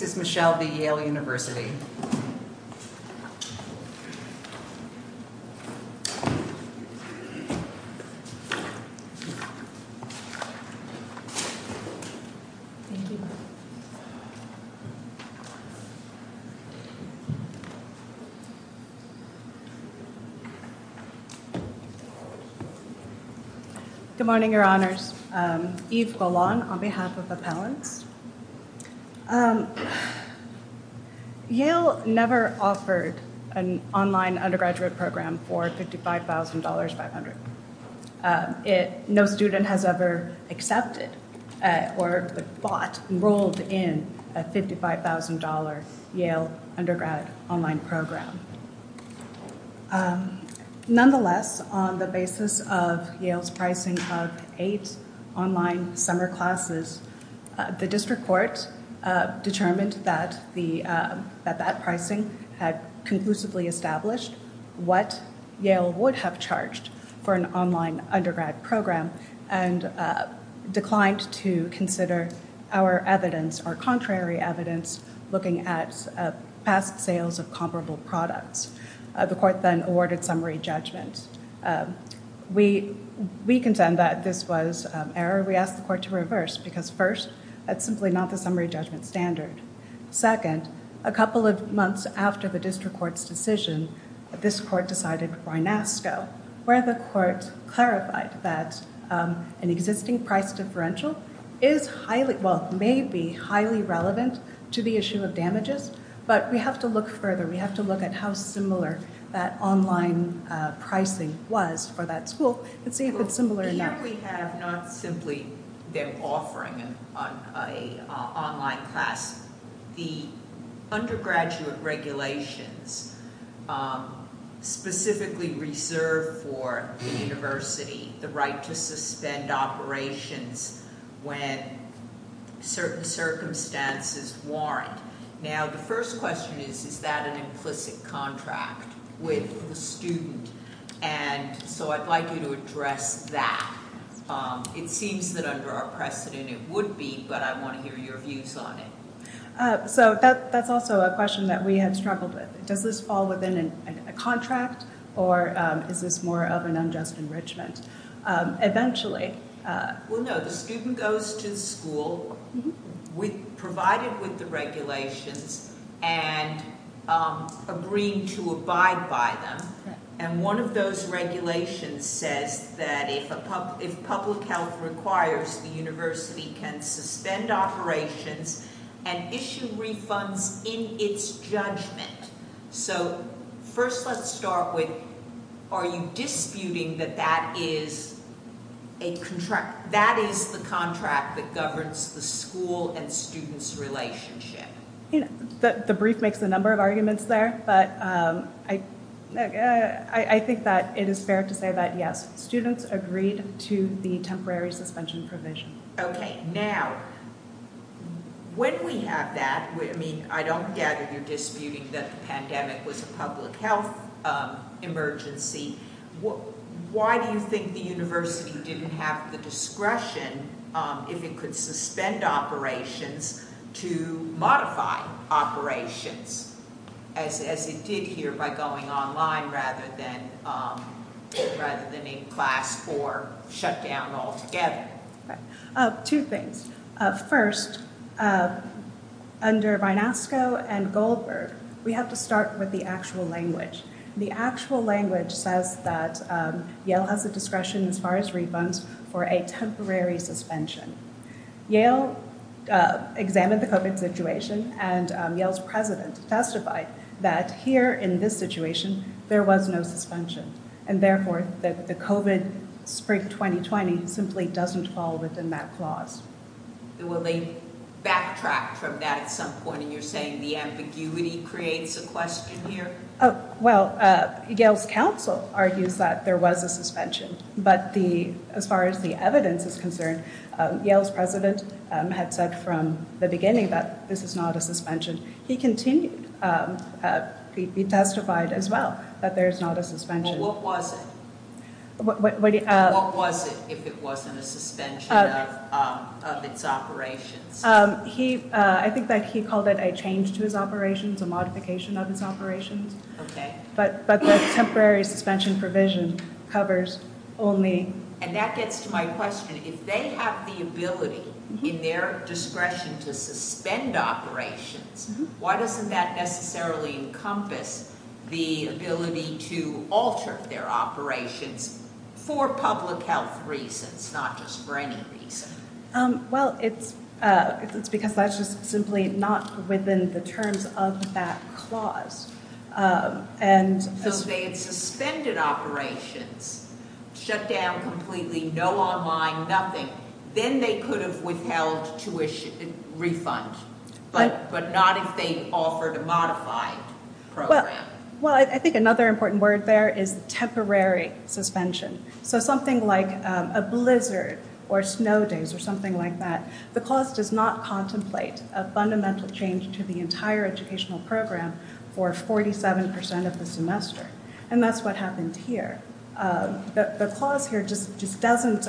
This is Michelle v. Yale University. Good morning, Your Honors. Yves Golan on behalf of Appellants. Yale never offered an online undergraduate program for $55,500. No student has ever accepted or bought, enrolled in a $55,000 Yale undergrad online program. Nonetheless, on the basis of Yale's pricing of eight online summer classes, the district court determined that that pricing had conclusively established what Yale would have charged for an online undergrad program and declined to consider our evidence, our contrary evidence, looking at past sales of comparable products. The court then awarded summary judgment. We contend that this was error. We asked the court to reverse, because first, that's simply not the summary judgment standard. Second, a couple of months after the district court's decision, this court decided by NASCO, where the court clarified that an existing price differential is highly, well, may be highly relevant to the issue of damages. But we have to look further. We have to look at how similar that online pricing was for that school and see if it's similar enough. Here we have not simply their offering an online class. The undergraduate regulations specifically reserved for the university, the right to suspend operations when certain circumstances warrant. Now, the first question is, is that an implicit contract with the student? And so I'd like you to address that. It seems that under our precedent it would be, but I want to hear your views on it. So that's also a question that we have struggled with. Does this fall within a contract, or is this more of an unjust enrichment? Eventually. Well, no, the student goes to the school provided with the regulations and agreeing to abide by them. And one of those regulations says that if public health requires, the university can suspend operations and issue refunds in its judgment. So first let's start with, are you disputing that that is the contract that governs the school and students' relationship? The brief makes a number of arguments there, but I think that it is fair to say that, yes, students agreed to the temporary suspension provision. OK, now, when we have that, I mean, I gather you're disputing that the pandemic was a public health emergency. Why do you think the university didn't have the discretion if it could suspend operations to modify operations, as it did here by going online rather than in class or shut down altogether? Two things. First, under Vynasko and Goldberg, we have to start with the actual language. The actual language says that Yale has the discretion, as far as refunds, for a temporary suspension. Yale examined the COVID situation, and Yale's president testified that here in this situation, there was no suspension. And therefore, the COVID spring 2020 simply doesn't fall within that clause. Will they backtrack from that at some point, and you're saying the ambiguity creates a question here? Well, Yale's council argues that there was a suspension. But as far as the evidence is concerned, Yale's president had said from the beginning that this is not a suspension. He continued. He testified as well that there is not a suspension. Well, what was it? What was it if it wasn't a suspension of its operations? I think that he called it a change to his operations, a modification of his operations. But the temporary suspension provision covers only. And that gets to my question. If they have the ability, in their discretion, to suspend operations, why doesn't that necessarily encompass the ability to alter their operations for public health reasons, not just for any reason? Well, it's because that's just simply not within the terms of that clause. And as they had suspended operations, shut down completely, no online, nothing, then they could have withheld tuition refund, but not if they offered a modified program. Well, I think another important word there is temporary suspension. So something like a blizzard or snow days or something like that, the clause does not contemplate a fundamental change to the entire educational program for 47% of the semester. And that's what happened here. The clause here just doesn't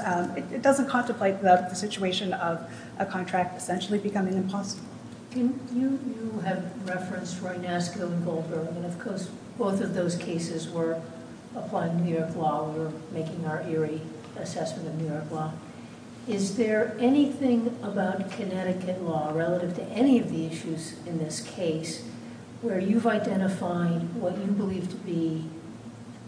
contemplate the situation of a contract essentially becoming impossible. You have referenced Reynasco and Goldberg. And of course, both of those cases were applied in New York law. We're making our eerie assessment in New York law. Is there anything about Connecticut law relative to any of the issues in this case where you've identified what you believe to be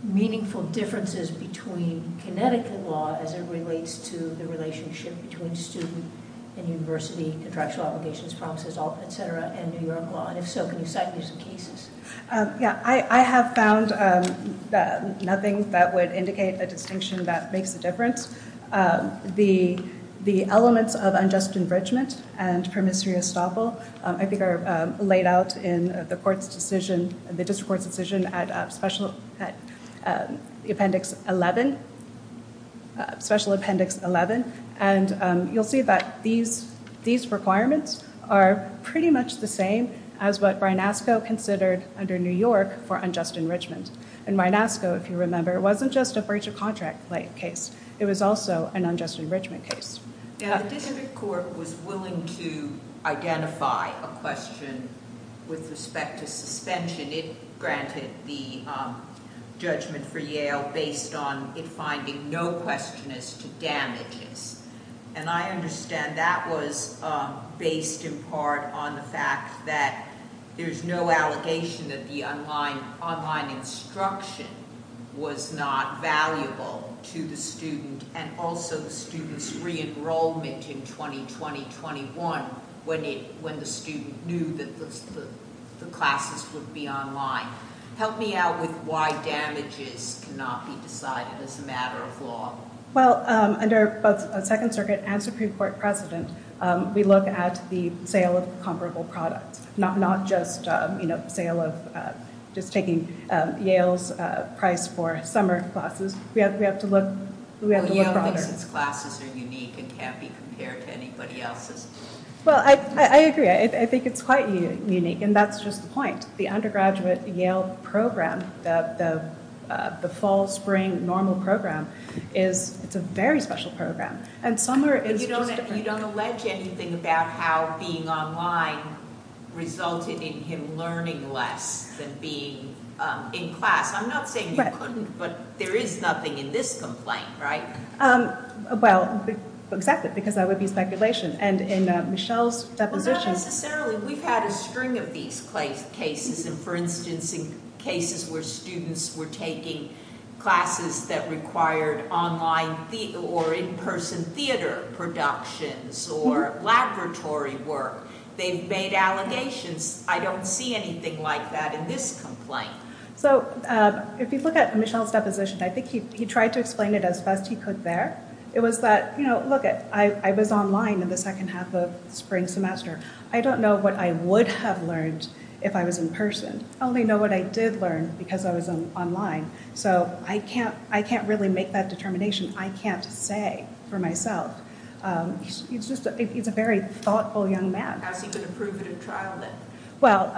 meaningful differences between Connecticut law as it relates to the relationship between student and university contractual obligations, promises, et cetera, and New York law? And if so, can you cite these cases? Yeah, I have found that nothing that would indicate a distinction that makes a difference. The elements of unjust infringement and promissory estoppel, I think are laid out in the court's decision, the district court's decision at special appendix 11, special appendix 11. And you'll see that these requirements are pretty much the same as what Reynasco considered under New York for unjust enrichment. And Reynasco, if you remember, wasn't just a breach of contract-like case. It was also an unjust enrichment case. Yeah, the district court was willing to identify a question with respect to suspension. It granted the judgment for Yale based on it finding no question as to damages. And I understand that was based in part on the fact that there's no allegation that the online instruction was not valuable to the student and also the student's re-enrollment in 2020-21 when the student knew that the classes would be online. Help me out with why damages cannot be decided as a matter of law. Well, under both the Second Circuit and Supreme Court precedent, we look at the sale of comparable products, not just the sale of, just taking Yale's price for summer classes. We have to look broader. Well, Yale thinks its classes are unique and can't be compared to anybody else's. Well, I agree. I think it's quite unique, and that's just the point. The undergraduate Yale program, the fall, spring, normal program is, it's a very special program. And summer is just different. But you don't allege anything about how being online resulted in him learning less than being in class. I'm not saying you couldn't, but there is nothing in this complaint, right? Well, exactly, because that would be speculation. And in Michelle's deposition. Not necessarily. We've had a string of these cases. And for instance, in cases where students were taking classes that required online or in-person theater productions or laboratory work, they've made allegations. I don't see anything like that in this complaint. So, if you look at Michelle's deposition, I think he tried to explain it as best he could there. It was that, look, I was online in the second half of spring semester. I don't know what I would have learned if I was in-person. I only know what I did learn because I was online. So, I can't really make that determination. I can't say for myself. It's just, he's a very thoughtful young man. How's he gonna prove it in trial then? Well,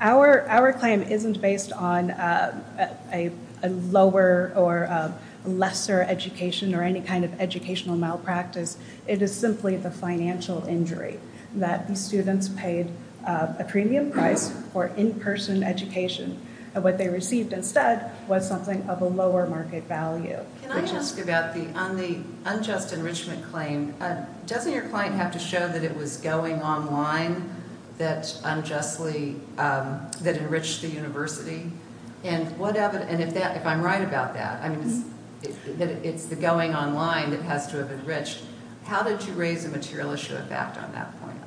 our claim isn't based on a lower or lesser education or any kind of educational malpractice. It is simply the financial injury that the students paid a premium price for in-person education. And what they received instead was something of a lower market value. Can I ask about the unjust enrichment claim? Doesn't your client have to show that it was going online that unjustly, that enriched the university? And if I'm right about that, I mean, it's the going online that has to have enriched. How did you raise a material issue of fact on that point?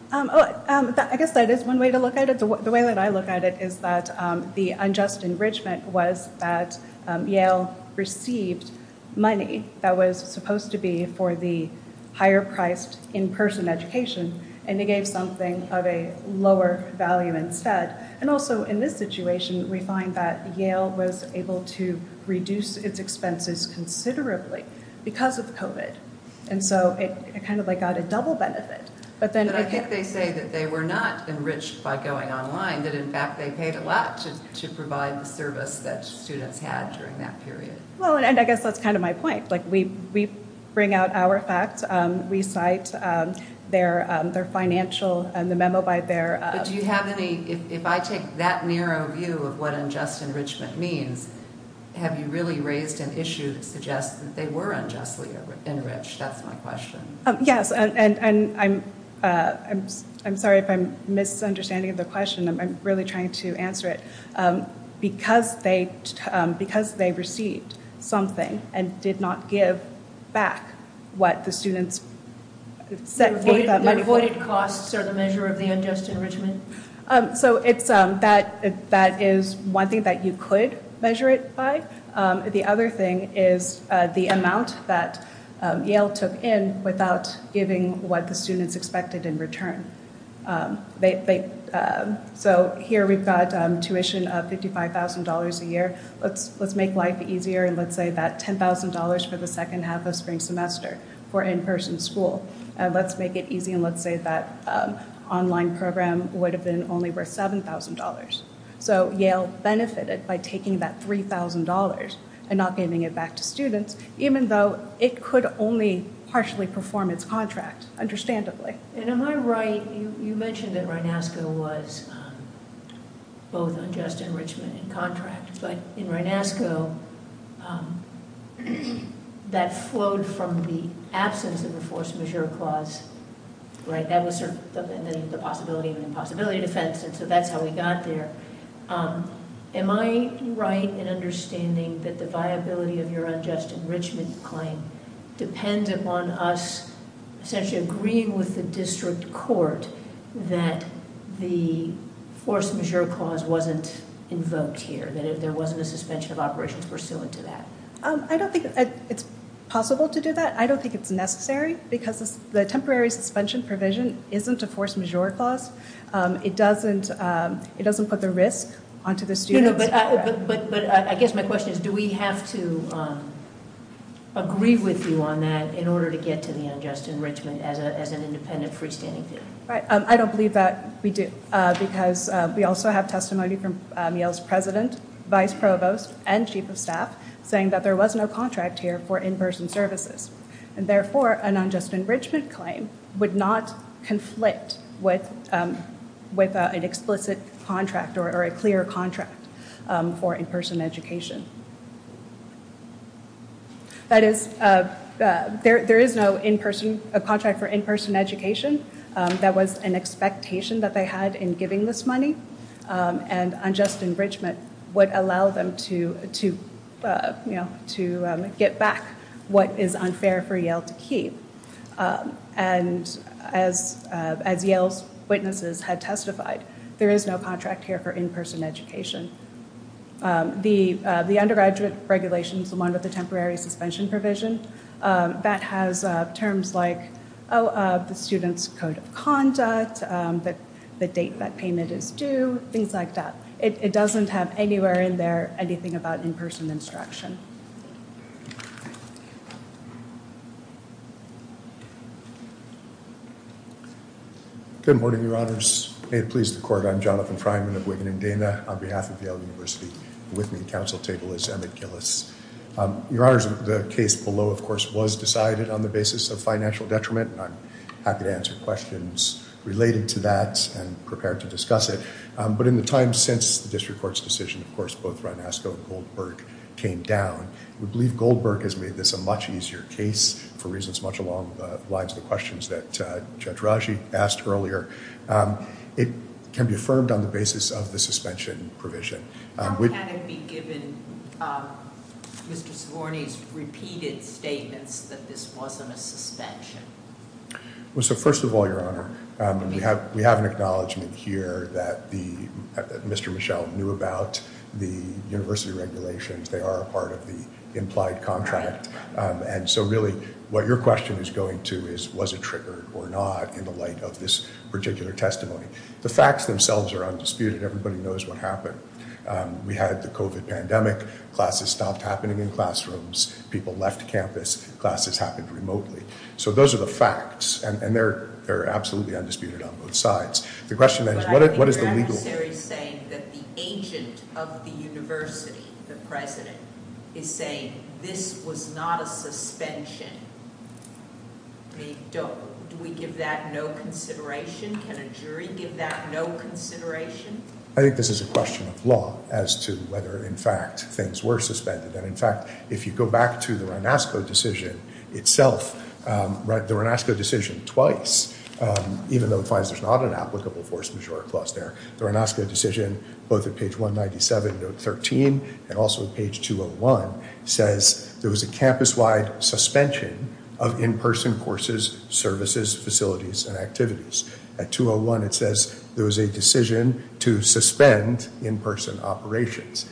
I guess that is one way to look at it. The way that I look at it is that the unjust enrichment was that Yale received money that was supposed to be for the higher priced in-person education and they gave something of a lower value instead. And also, in this situation, we find that Yale was able to reduce its expenses considerably because of COVID. And so it kind of like got a double benefit. But then- But I think they say that they were not enriched by going online, that in fact, they paid a lot to provide the service that students had during that period. Well, and I guess that's kind of my point. Like we bring out our facts, we cite their financial and the memo by their- Do you have any, if I take that narrow view of what unjust enrichment means, have you really raised an issue that suggests that they were unjustly enriched? That's my question. Yes, and I'm sorry if I'm misunderstanding the question. I'm really trying to answer it. Because they received something and did not give back what the students set for that money. The avoided costs are the measure of the unjust enrichment? So that is one thing that you could measure it by. The other thing is the amount that Yale took in without giving what the students expected in return. So here we've got tuition of $55,000 a year. Let's make life easier. And let's say that $10,000 for the second half of spring semester for in-person school. And let's make it easy. And let's say that online program would have been only worth $7,000. So Yale benefited by taking that $3,000 and not giving it back to students, even though it could only partially perform its contract, understandably. And am I right, you mentioned that RINASCO was both unjust enrichment and contract. But in RINASCO, that flowed from the absence of the force majeure clause, right? That was the possibility of an impossibility defense. And so that's how we got there. Am I right in understanding that the viability of your unjust enrichment claim depends upon us essentially agreeing with the district court that the force majeure clause wasn't invoked here, that there wasn't a suspension of operations pursuant to that? I don't think it's possible to do that. I don't think it's necessary because the temporary suspension provision isn't a force majeure clause. It doesn't put the risk onto the students. But I guess my question is, do we have to agree with you on that in order to get to the unjust enrichment as an independent freestanding? Right, I don't believe that we do because we also have testimony from Yale's president, vice provost, and chief of staff saying that there was no contract here for in-person services. And therefore, an unjust enrichment claim would not conflict with an explicit contract or a clear contract for in-person education. That is, there is no contract for in-person education. That was an expectation that they had in giving this money. And unjust enrichment would allow them to get back what is unfair for Yale to keep. And as Yale's witnesses had testified, there is no contract here for in-person education. The undergraduate regulations, the one with the temporary suspension provision, that has terms like the student's code of conduct, the date that payment is due, things like that. It doesn't have anywhere in there anything about in-person instruction. Good morning, your honors. May it please the court, I'm Jonathan Fryman of Witten and Dana on behalf of Yale University. With me at council table is Emmett Gillis. Your honors, the case below, of course, was decided on the basis of financial detriment, and I'm happy to answer questions related to that and prepare to discuss it. But in the time since the district court's decision, of course, both Ranasco and Goldberg came down. We believe Goldberg has made this a much easier case for reasons much along the lines of the questions that Judge Raji asked earlier. It can be affirmed on the basis of the suspension provision. How can it be given Mr. Svorny's repeated statements that this wasn't a suspension? Well, so first of all, your honor, we have an acknowledgement here that Mr. Michel knew about the university regulations. They are a part of the implied contract. And so really, what your question is going to is, was it triggered or not in the light of this particular testimony? The facts themselves are undisputed. Everybody knows what happened. We had the COVID pandemic, classes stopped happening in classrooms, people left campus, classes happened remotely. So those are the facts, and they're absolutely undisputed on both sides. The question then is, what is the legal? But I think the adversary is saying that the agent of the university, the president, is saying this was not a suspension. Do we give that no consideration? Can a jury give that no consideration? I think this is a question of law as to whether in fact things were suspended. And in fact, if you go back to the Ranasco decision itself, the Ranasco decision twice, even though it finds there's not an applicable force majeure clause there, the Ranasco decision, both at page 197, note 13, and also at page 201, says there was a campus-wide suspension of in-person courses, services, facilities, and activities. At 201, it says there was a decision to suspend in-person operations.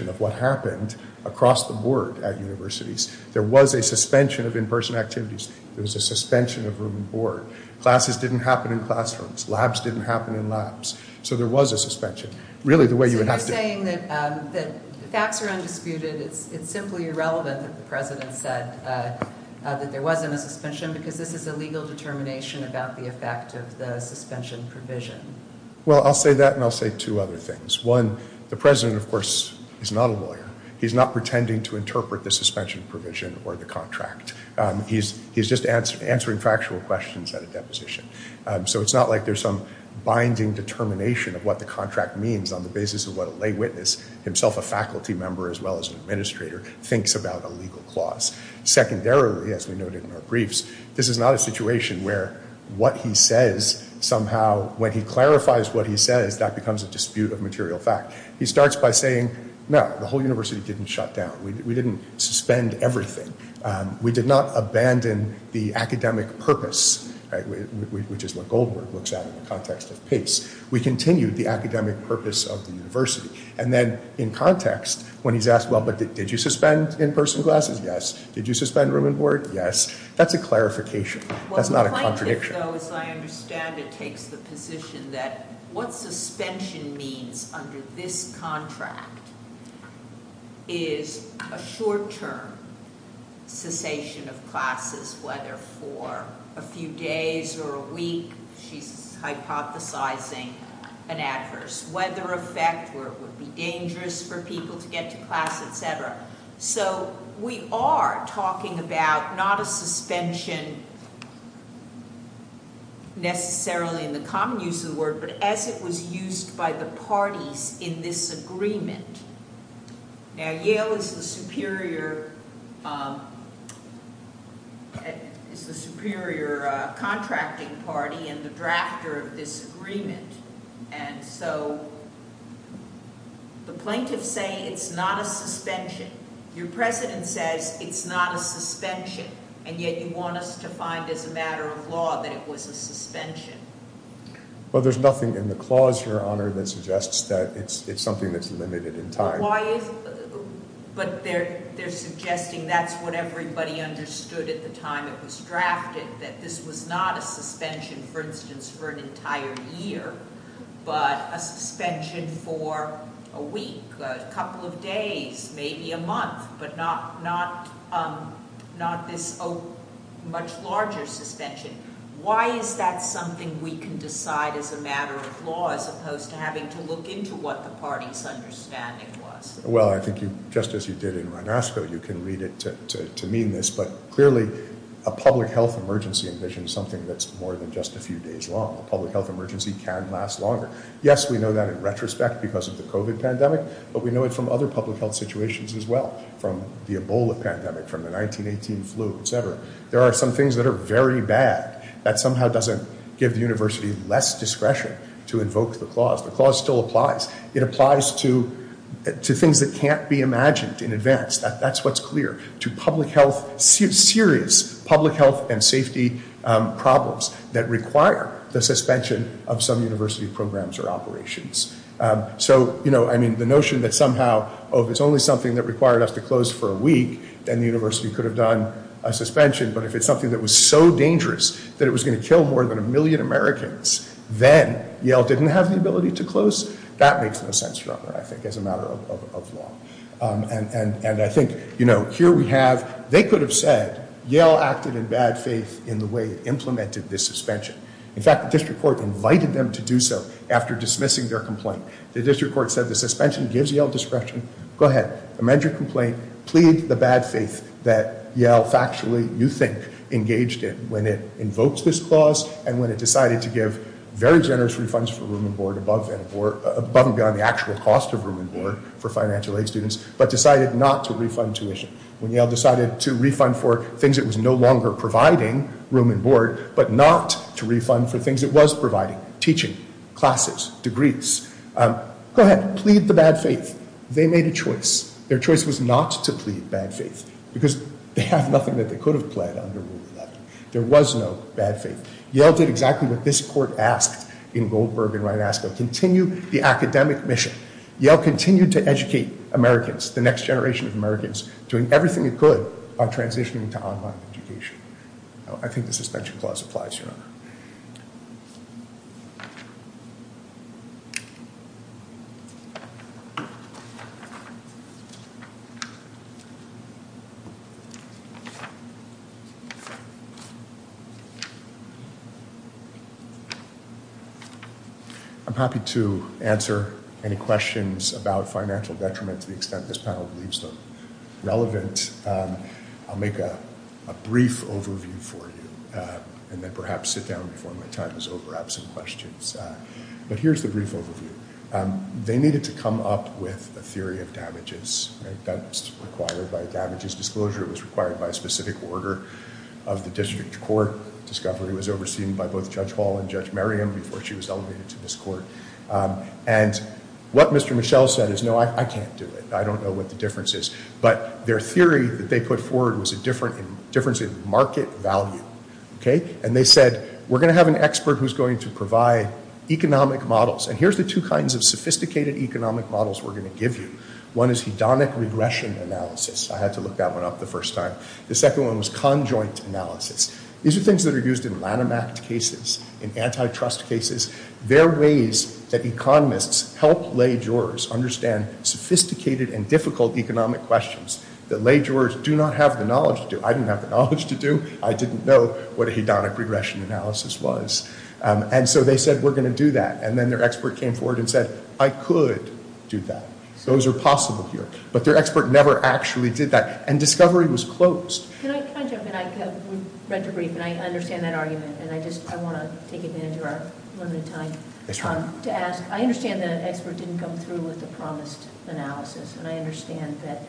of what happened across the board at universities. There was a suspension of in-person activities. There was a suspension of room and board. Classes didn't happen in classrooms. Labs didn't happen in labs. So there was a suspension. Really, the way you would have to- So you're saying that the facts are undisputed. It's simply irrelevant that the president said that there wasn't a suspension because this is a legal determination about the effect of the suspension provision. Well, I'll say that, and I'll say two other things. One, the president, of course, is not a lawyer. He's not pretending to interpret the suspension provision or the contract. He's just answering factual questions at a deposition. So it's not like there's some binding determination of what the contract means on the basis of what a lay witness, himself a faculty member as well as an administrator, thinks about a legal clause. Secondarily, as we noted in our briefs, this is not a situation where what he says somehow, when he clarifies what he says, that becomes a dispute of material fact. He starts by saying, no, the whole university didn't shut down. We didn't suspend everything. We did not abandon the academic purpose, which is what Goldberg looks at in the context of pace. We continued the academic purpose of the university. And then, in context, when he's asked, well, but did you suspend in-person classes? Yes. Did you suspend room and board? Yes. That's a clarification. That's not a contradiction. Well, the plaintiff, though, as I understand it, takes the position that what suspension means under this contract is a short-term cessation of classes, whether for a few days or a week. She's hypothesizing an adverse weather effect where it would be dangerous for people to get to class, et cetera. So we are talking about not a suspension necessarily in the common use of the word, but as it was used by the parties in this agreement. Now, Yale is the superior, is the superior contracting party and the drafter of this agreement. And so the plaintiffs say it's not a suspension. Your president says it's not a suspension, and yet you want us to find, as a matter of law, that it was a suspension. Well, there's nothing in the clause, Your Honor, that suggests that it's something that's limited in time. Why is, but they're suggesting that's what everybody understood at the time it was drafted, that this was not a suspension, for instance, for an entire year, but a suspension for a week, a couple of days, maybe a month, but not this much larger suspension. Why is that something we can decide as a matter of law as opposed to having to look into what the party's understanding was? Well, I think you, just as you did in Ronasco, you can read it to mean this, but clearly a public health emergency envisions something that's more than just a few days long. A public health emergency can last longer. Yes, we know that in retrospect because of the COVID pandemic, but we know it from other public health situations as well, from the Ebola pandemic, from the 1918 flu, et cetera. There are some things that are very bad that somehow doesn't give the university less discretion to invoke the clause. The clause still applies. It applies to things that can't be imagined in advance. That's what's clear to public health, serious public health and safety problems that require the suspension of some university programs or operations. So, I mean, the notion that somehow, oh, if it's only something that required us to close for a week, then the university could have done a suspension. But if it's something that was so dangerous that it was gonna kill more than a million Americans, then Yale didn't have the ability to close. That makes no sense, Robert, I think, as a matter of law. And I think, you know, here we have, they could have said Yale acted in bad faith in the way it implemented this suspension. In fact, the district court invited them to do so after dismissing their complaint. The district court said the suspension gives Yale discretion. Go ahead, amend your complaint, plead the bad faith that Yale factually, you think, engaged in when it invoked this clause and when it decided to give very generous refunds for room and board above and beyond the actual cost of room and board for financial aid students, but decided not to refund tuition. When Yale decided to refund for things it was no longer providing, room and board, but not to refund for things it was providing, teaching, classes, degrees. Go ahead, plead the bad faith. They made a choice. Their choice was not to plead bad faith because they have nothing that they could have pled under Rule 11. There was no bad faith. Yale did exactly what this court asked in Goldberg and Rinasco, continue the academic mission. Yale continued to educate Americans, the next generation of Americans, on transitioning to online education. I think the suspension clause applies, Your Honor. Thank you. I'm happy to answer any questions about financial detriment to the extent this panel believes them relevant. I'll make a brief overview for you and then perhaps sit down before my time is over, have some questions. But here's the brief overview. They needed to come up with a theory of damages. That's required by damages disclosure. It was required by a specific order of the district court. Discovery was overseen by both Judge Hall and Judge Merriam before she was elevated to this court. And what Mr. Michel said is, no, I can't do it. I don't know what the difference is. But their theory that they put forward was a difference in market value, okay? And they said, we're gonna have an expert who's going to provide economic models. And here's the two kinds of sophisticated economic models we're gonna give you. One is hedonic regression analysis. I had to look that one up the first time. The second one was conjoint analysis. These are things that are used in Lanham Act cases, in antitrust cases. They're ways that economists help lay jurors understand sophisticated and difficult economic questions that lay jurors do not have the knowledge to do. I didn't have the knowledge to do. I didn't know what a hedonic regression analysis was. And so they said, we're gonna do that. And then their expert came forward and said, I could do that. Those are possible here. But their expert never actually did that. And discovery was closed. Can I jump in? I read the brief and I understand that argument. And I just, I want to take advantage of our limited time to ask, I understand the expert didn't come through with the promised analysis. And I understand that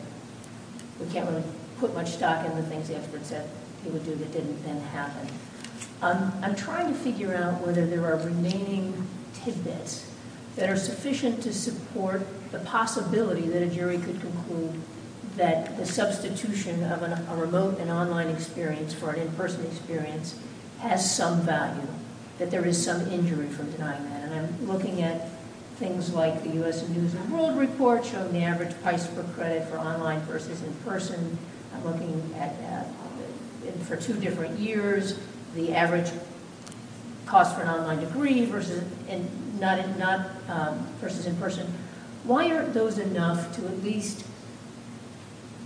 we can't really put much stock in the things the expert said he would do that didn't then happen. I'm trying to figure out whether there are remaining tidbits that are sufficient to support the possibility that a jury could conclude that the substitution of a remote and online experience for an in-person experience has some value, that there is some injury from denying that. And I'm looking at things like the US News and World Report showing the average price per credit for online versus in-person. I'm looking at, for two different years, the average cost for an online degree versus in-person. Why aren't those enough to at least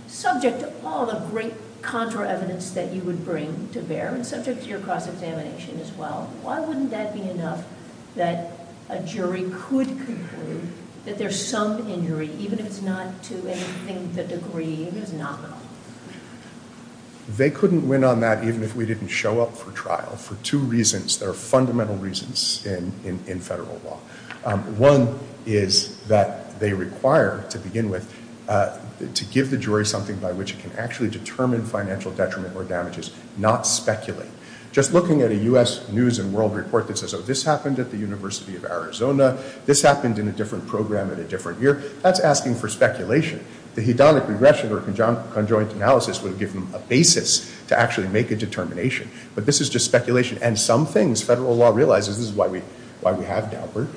subject to all the great contra evidence that you would bring to bear and subject to your cross-examination as well? Why wouldn't that be enough that a jury could conclude that there's some injury, even if it's not to anything the degree is nominal? They couldn't win on that even if we didn't show up for trial for two reasons that are fundamental reasons in federal law. One is that they require, to begin with, to give the jury something by which it can actually determine financial detriment or damages, not speculate. Just looking at a US News and World Report that says, oh, this happened at the University of Arizona, this happened in a different program at a different year, that's asking for speculation. The hedonic regression or conjoint analysis would give them a basis to actually make a determination. But this is just speculation. And some things federal law realizes, this is why we have Daubert.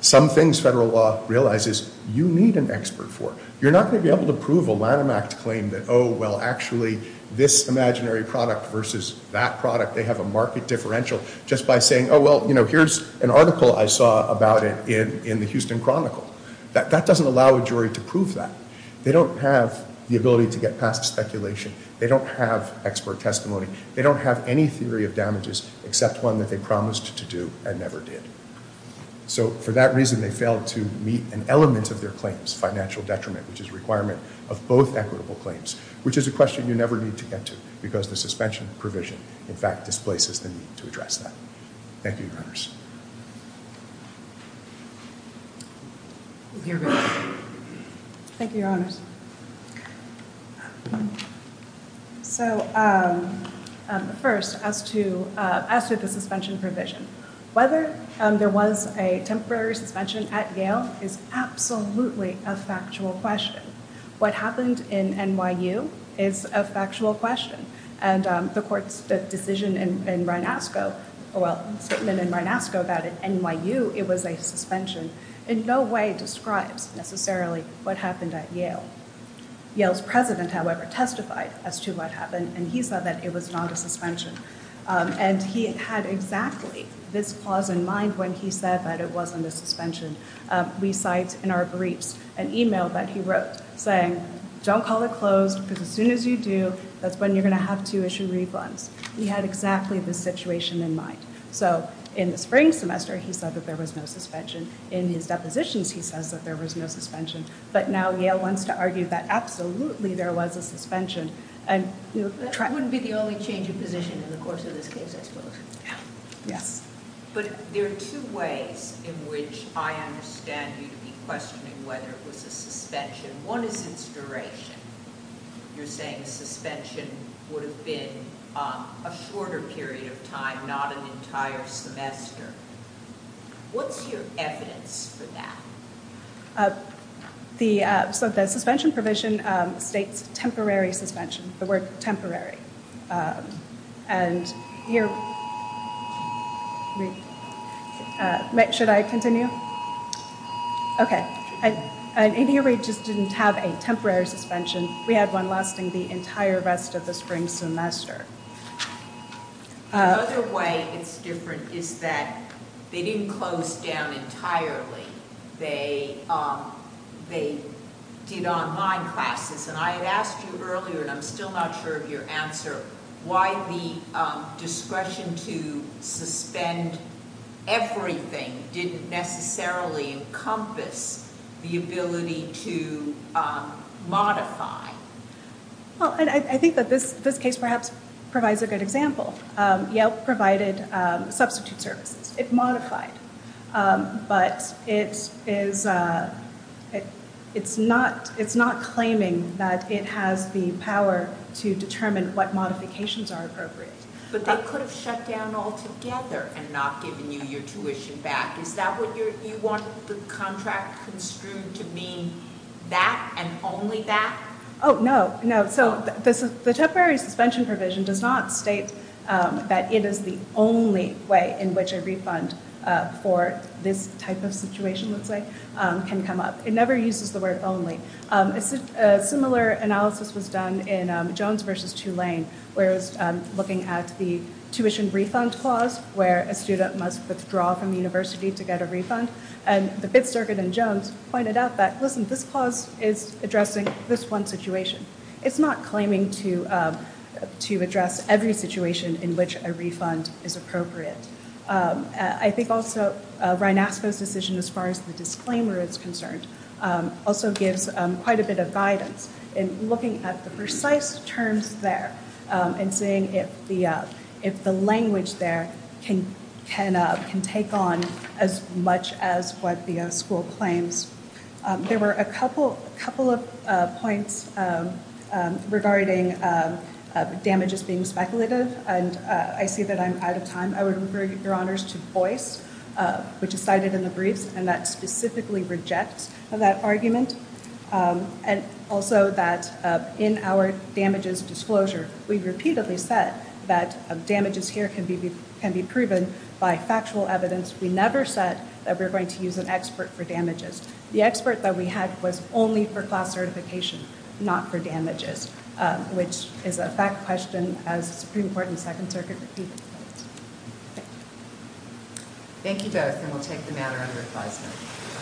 Some things federal law realizes you need an expert for. You're not going to be able to prove a Lanham Act claim that, oh, well, actually, this imaginary product versus that product, they have a market differential just by saying, oh, well, here's an article I saw about it in the Houston Chronicle. That doesn't allow a jury to prove that. They don't have the ability to get past speculation. They don't have expert testimony. They don't have any theory of damages except one that they promised to do and never did. So for that reason, they failed to meet an element of their claims, financial detriment, which is a requirement of both equitable claims, which is a question you never need to get to because the suspension provision, in fact, displaces the need to address that. Thank you, Your Honors. Your best. Thank you, Your Honors. So first, as to the suspension provision, whether there was a temporary suspension at Yale is absolutely a factual question. What happened in NYU is a factual question. And the court's decision in Rinasco, well, statement in Rinasco that at NYU it was a suspension, in no way describes necessarily what happened at Yale. Yale's president, however, testified as to what happened. And he said that it was not a suspension. And he had exactly this clause in mind when he said that it wasn't a suspension. We cite in our briefs an email that he wrote saying, don't call it closed because as soon as you do, that's when you're going to have to issue rebounds. He had exactly this situation in mind. So in the spring semester, he said that there was no suspension. In his depositions, he says that there was no suspension. But now Yale wants to argue that absolutely there was a suspension. And you know, try. That wouldn't be the only change of position in the course of this case, I suppose. Yes. But there are two ways in which I understand you to be questioning whether it was a suspension. One is its duration. You're saying a suspension would have been a shorter period of time, not an entire semester. What's your evidence for that? So the suspension provision states temporary suspension, the word temporary. And here, should I continue? OK. And ADO rate just didn't have a temporary suspension. We had one lasting the entire rest of the spring semester. The other way it's different is that they didn't close down entirely. They did online classes. And I had asked you earlier, and I'm still not sure of your answer, why the discretion to suspend everything didn't necessarily encompass the ability to modify. Well, I think that this case perhaps provides a good example. Yelp provided substitute services. It modified. But it's not claiming that it has the power to determine what modifications are appropriate. But they could have shut down altogether and not given you your tuition back. You want the contract construed to mean that and only that? Oh, no, no. So the temporary suspension provision does not state that it is the only way in which a refund for this type of situation, let's say, can come up. It never uses the word only. Similar analysis was done in Jones versus Tulane, where it was looking at the tuition refund clause, where a student must withdraw from the university to get a refund. And the Pitt Circuit in Jones pointed out that, listen, this clause is addressing this one situation. It's not claiming to address every situation in which a refund is appropriate. I think also Reinasco's decision, as far as the disclaimer is concerned, also gives quite a bit of guidance in looking at the precise terms there and seeing if the language there can take on as much as what the school claims. There were a couple of points regarding damages being speculative. And I see that I'm out of time. I would refer your honors to the voice, which is cited in the briefs, and that specifically rejects that argument. And also that in our damages disclosure, we've repeatedly said that damages here can be proven by factual evidence. We never said that we're going to use an expert for damages. The expert that we had was only for class certification, not for damages, which is a fact question, as the Supreme Court and Second Circuit repeatedly put it. Thank you both, and we'll take the matter under advisement.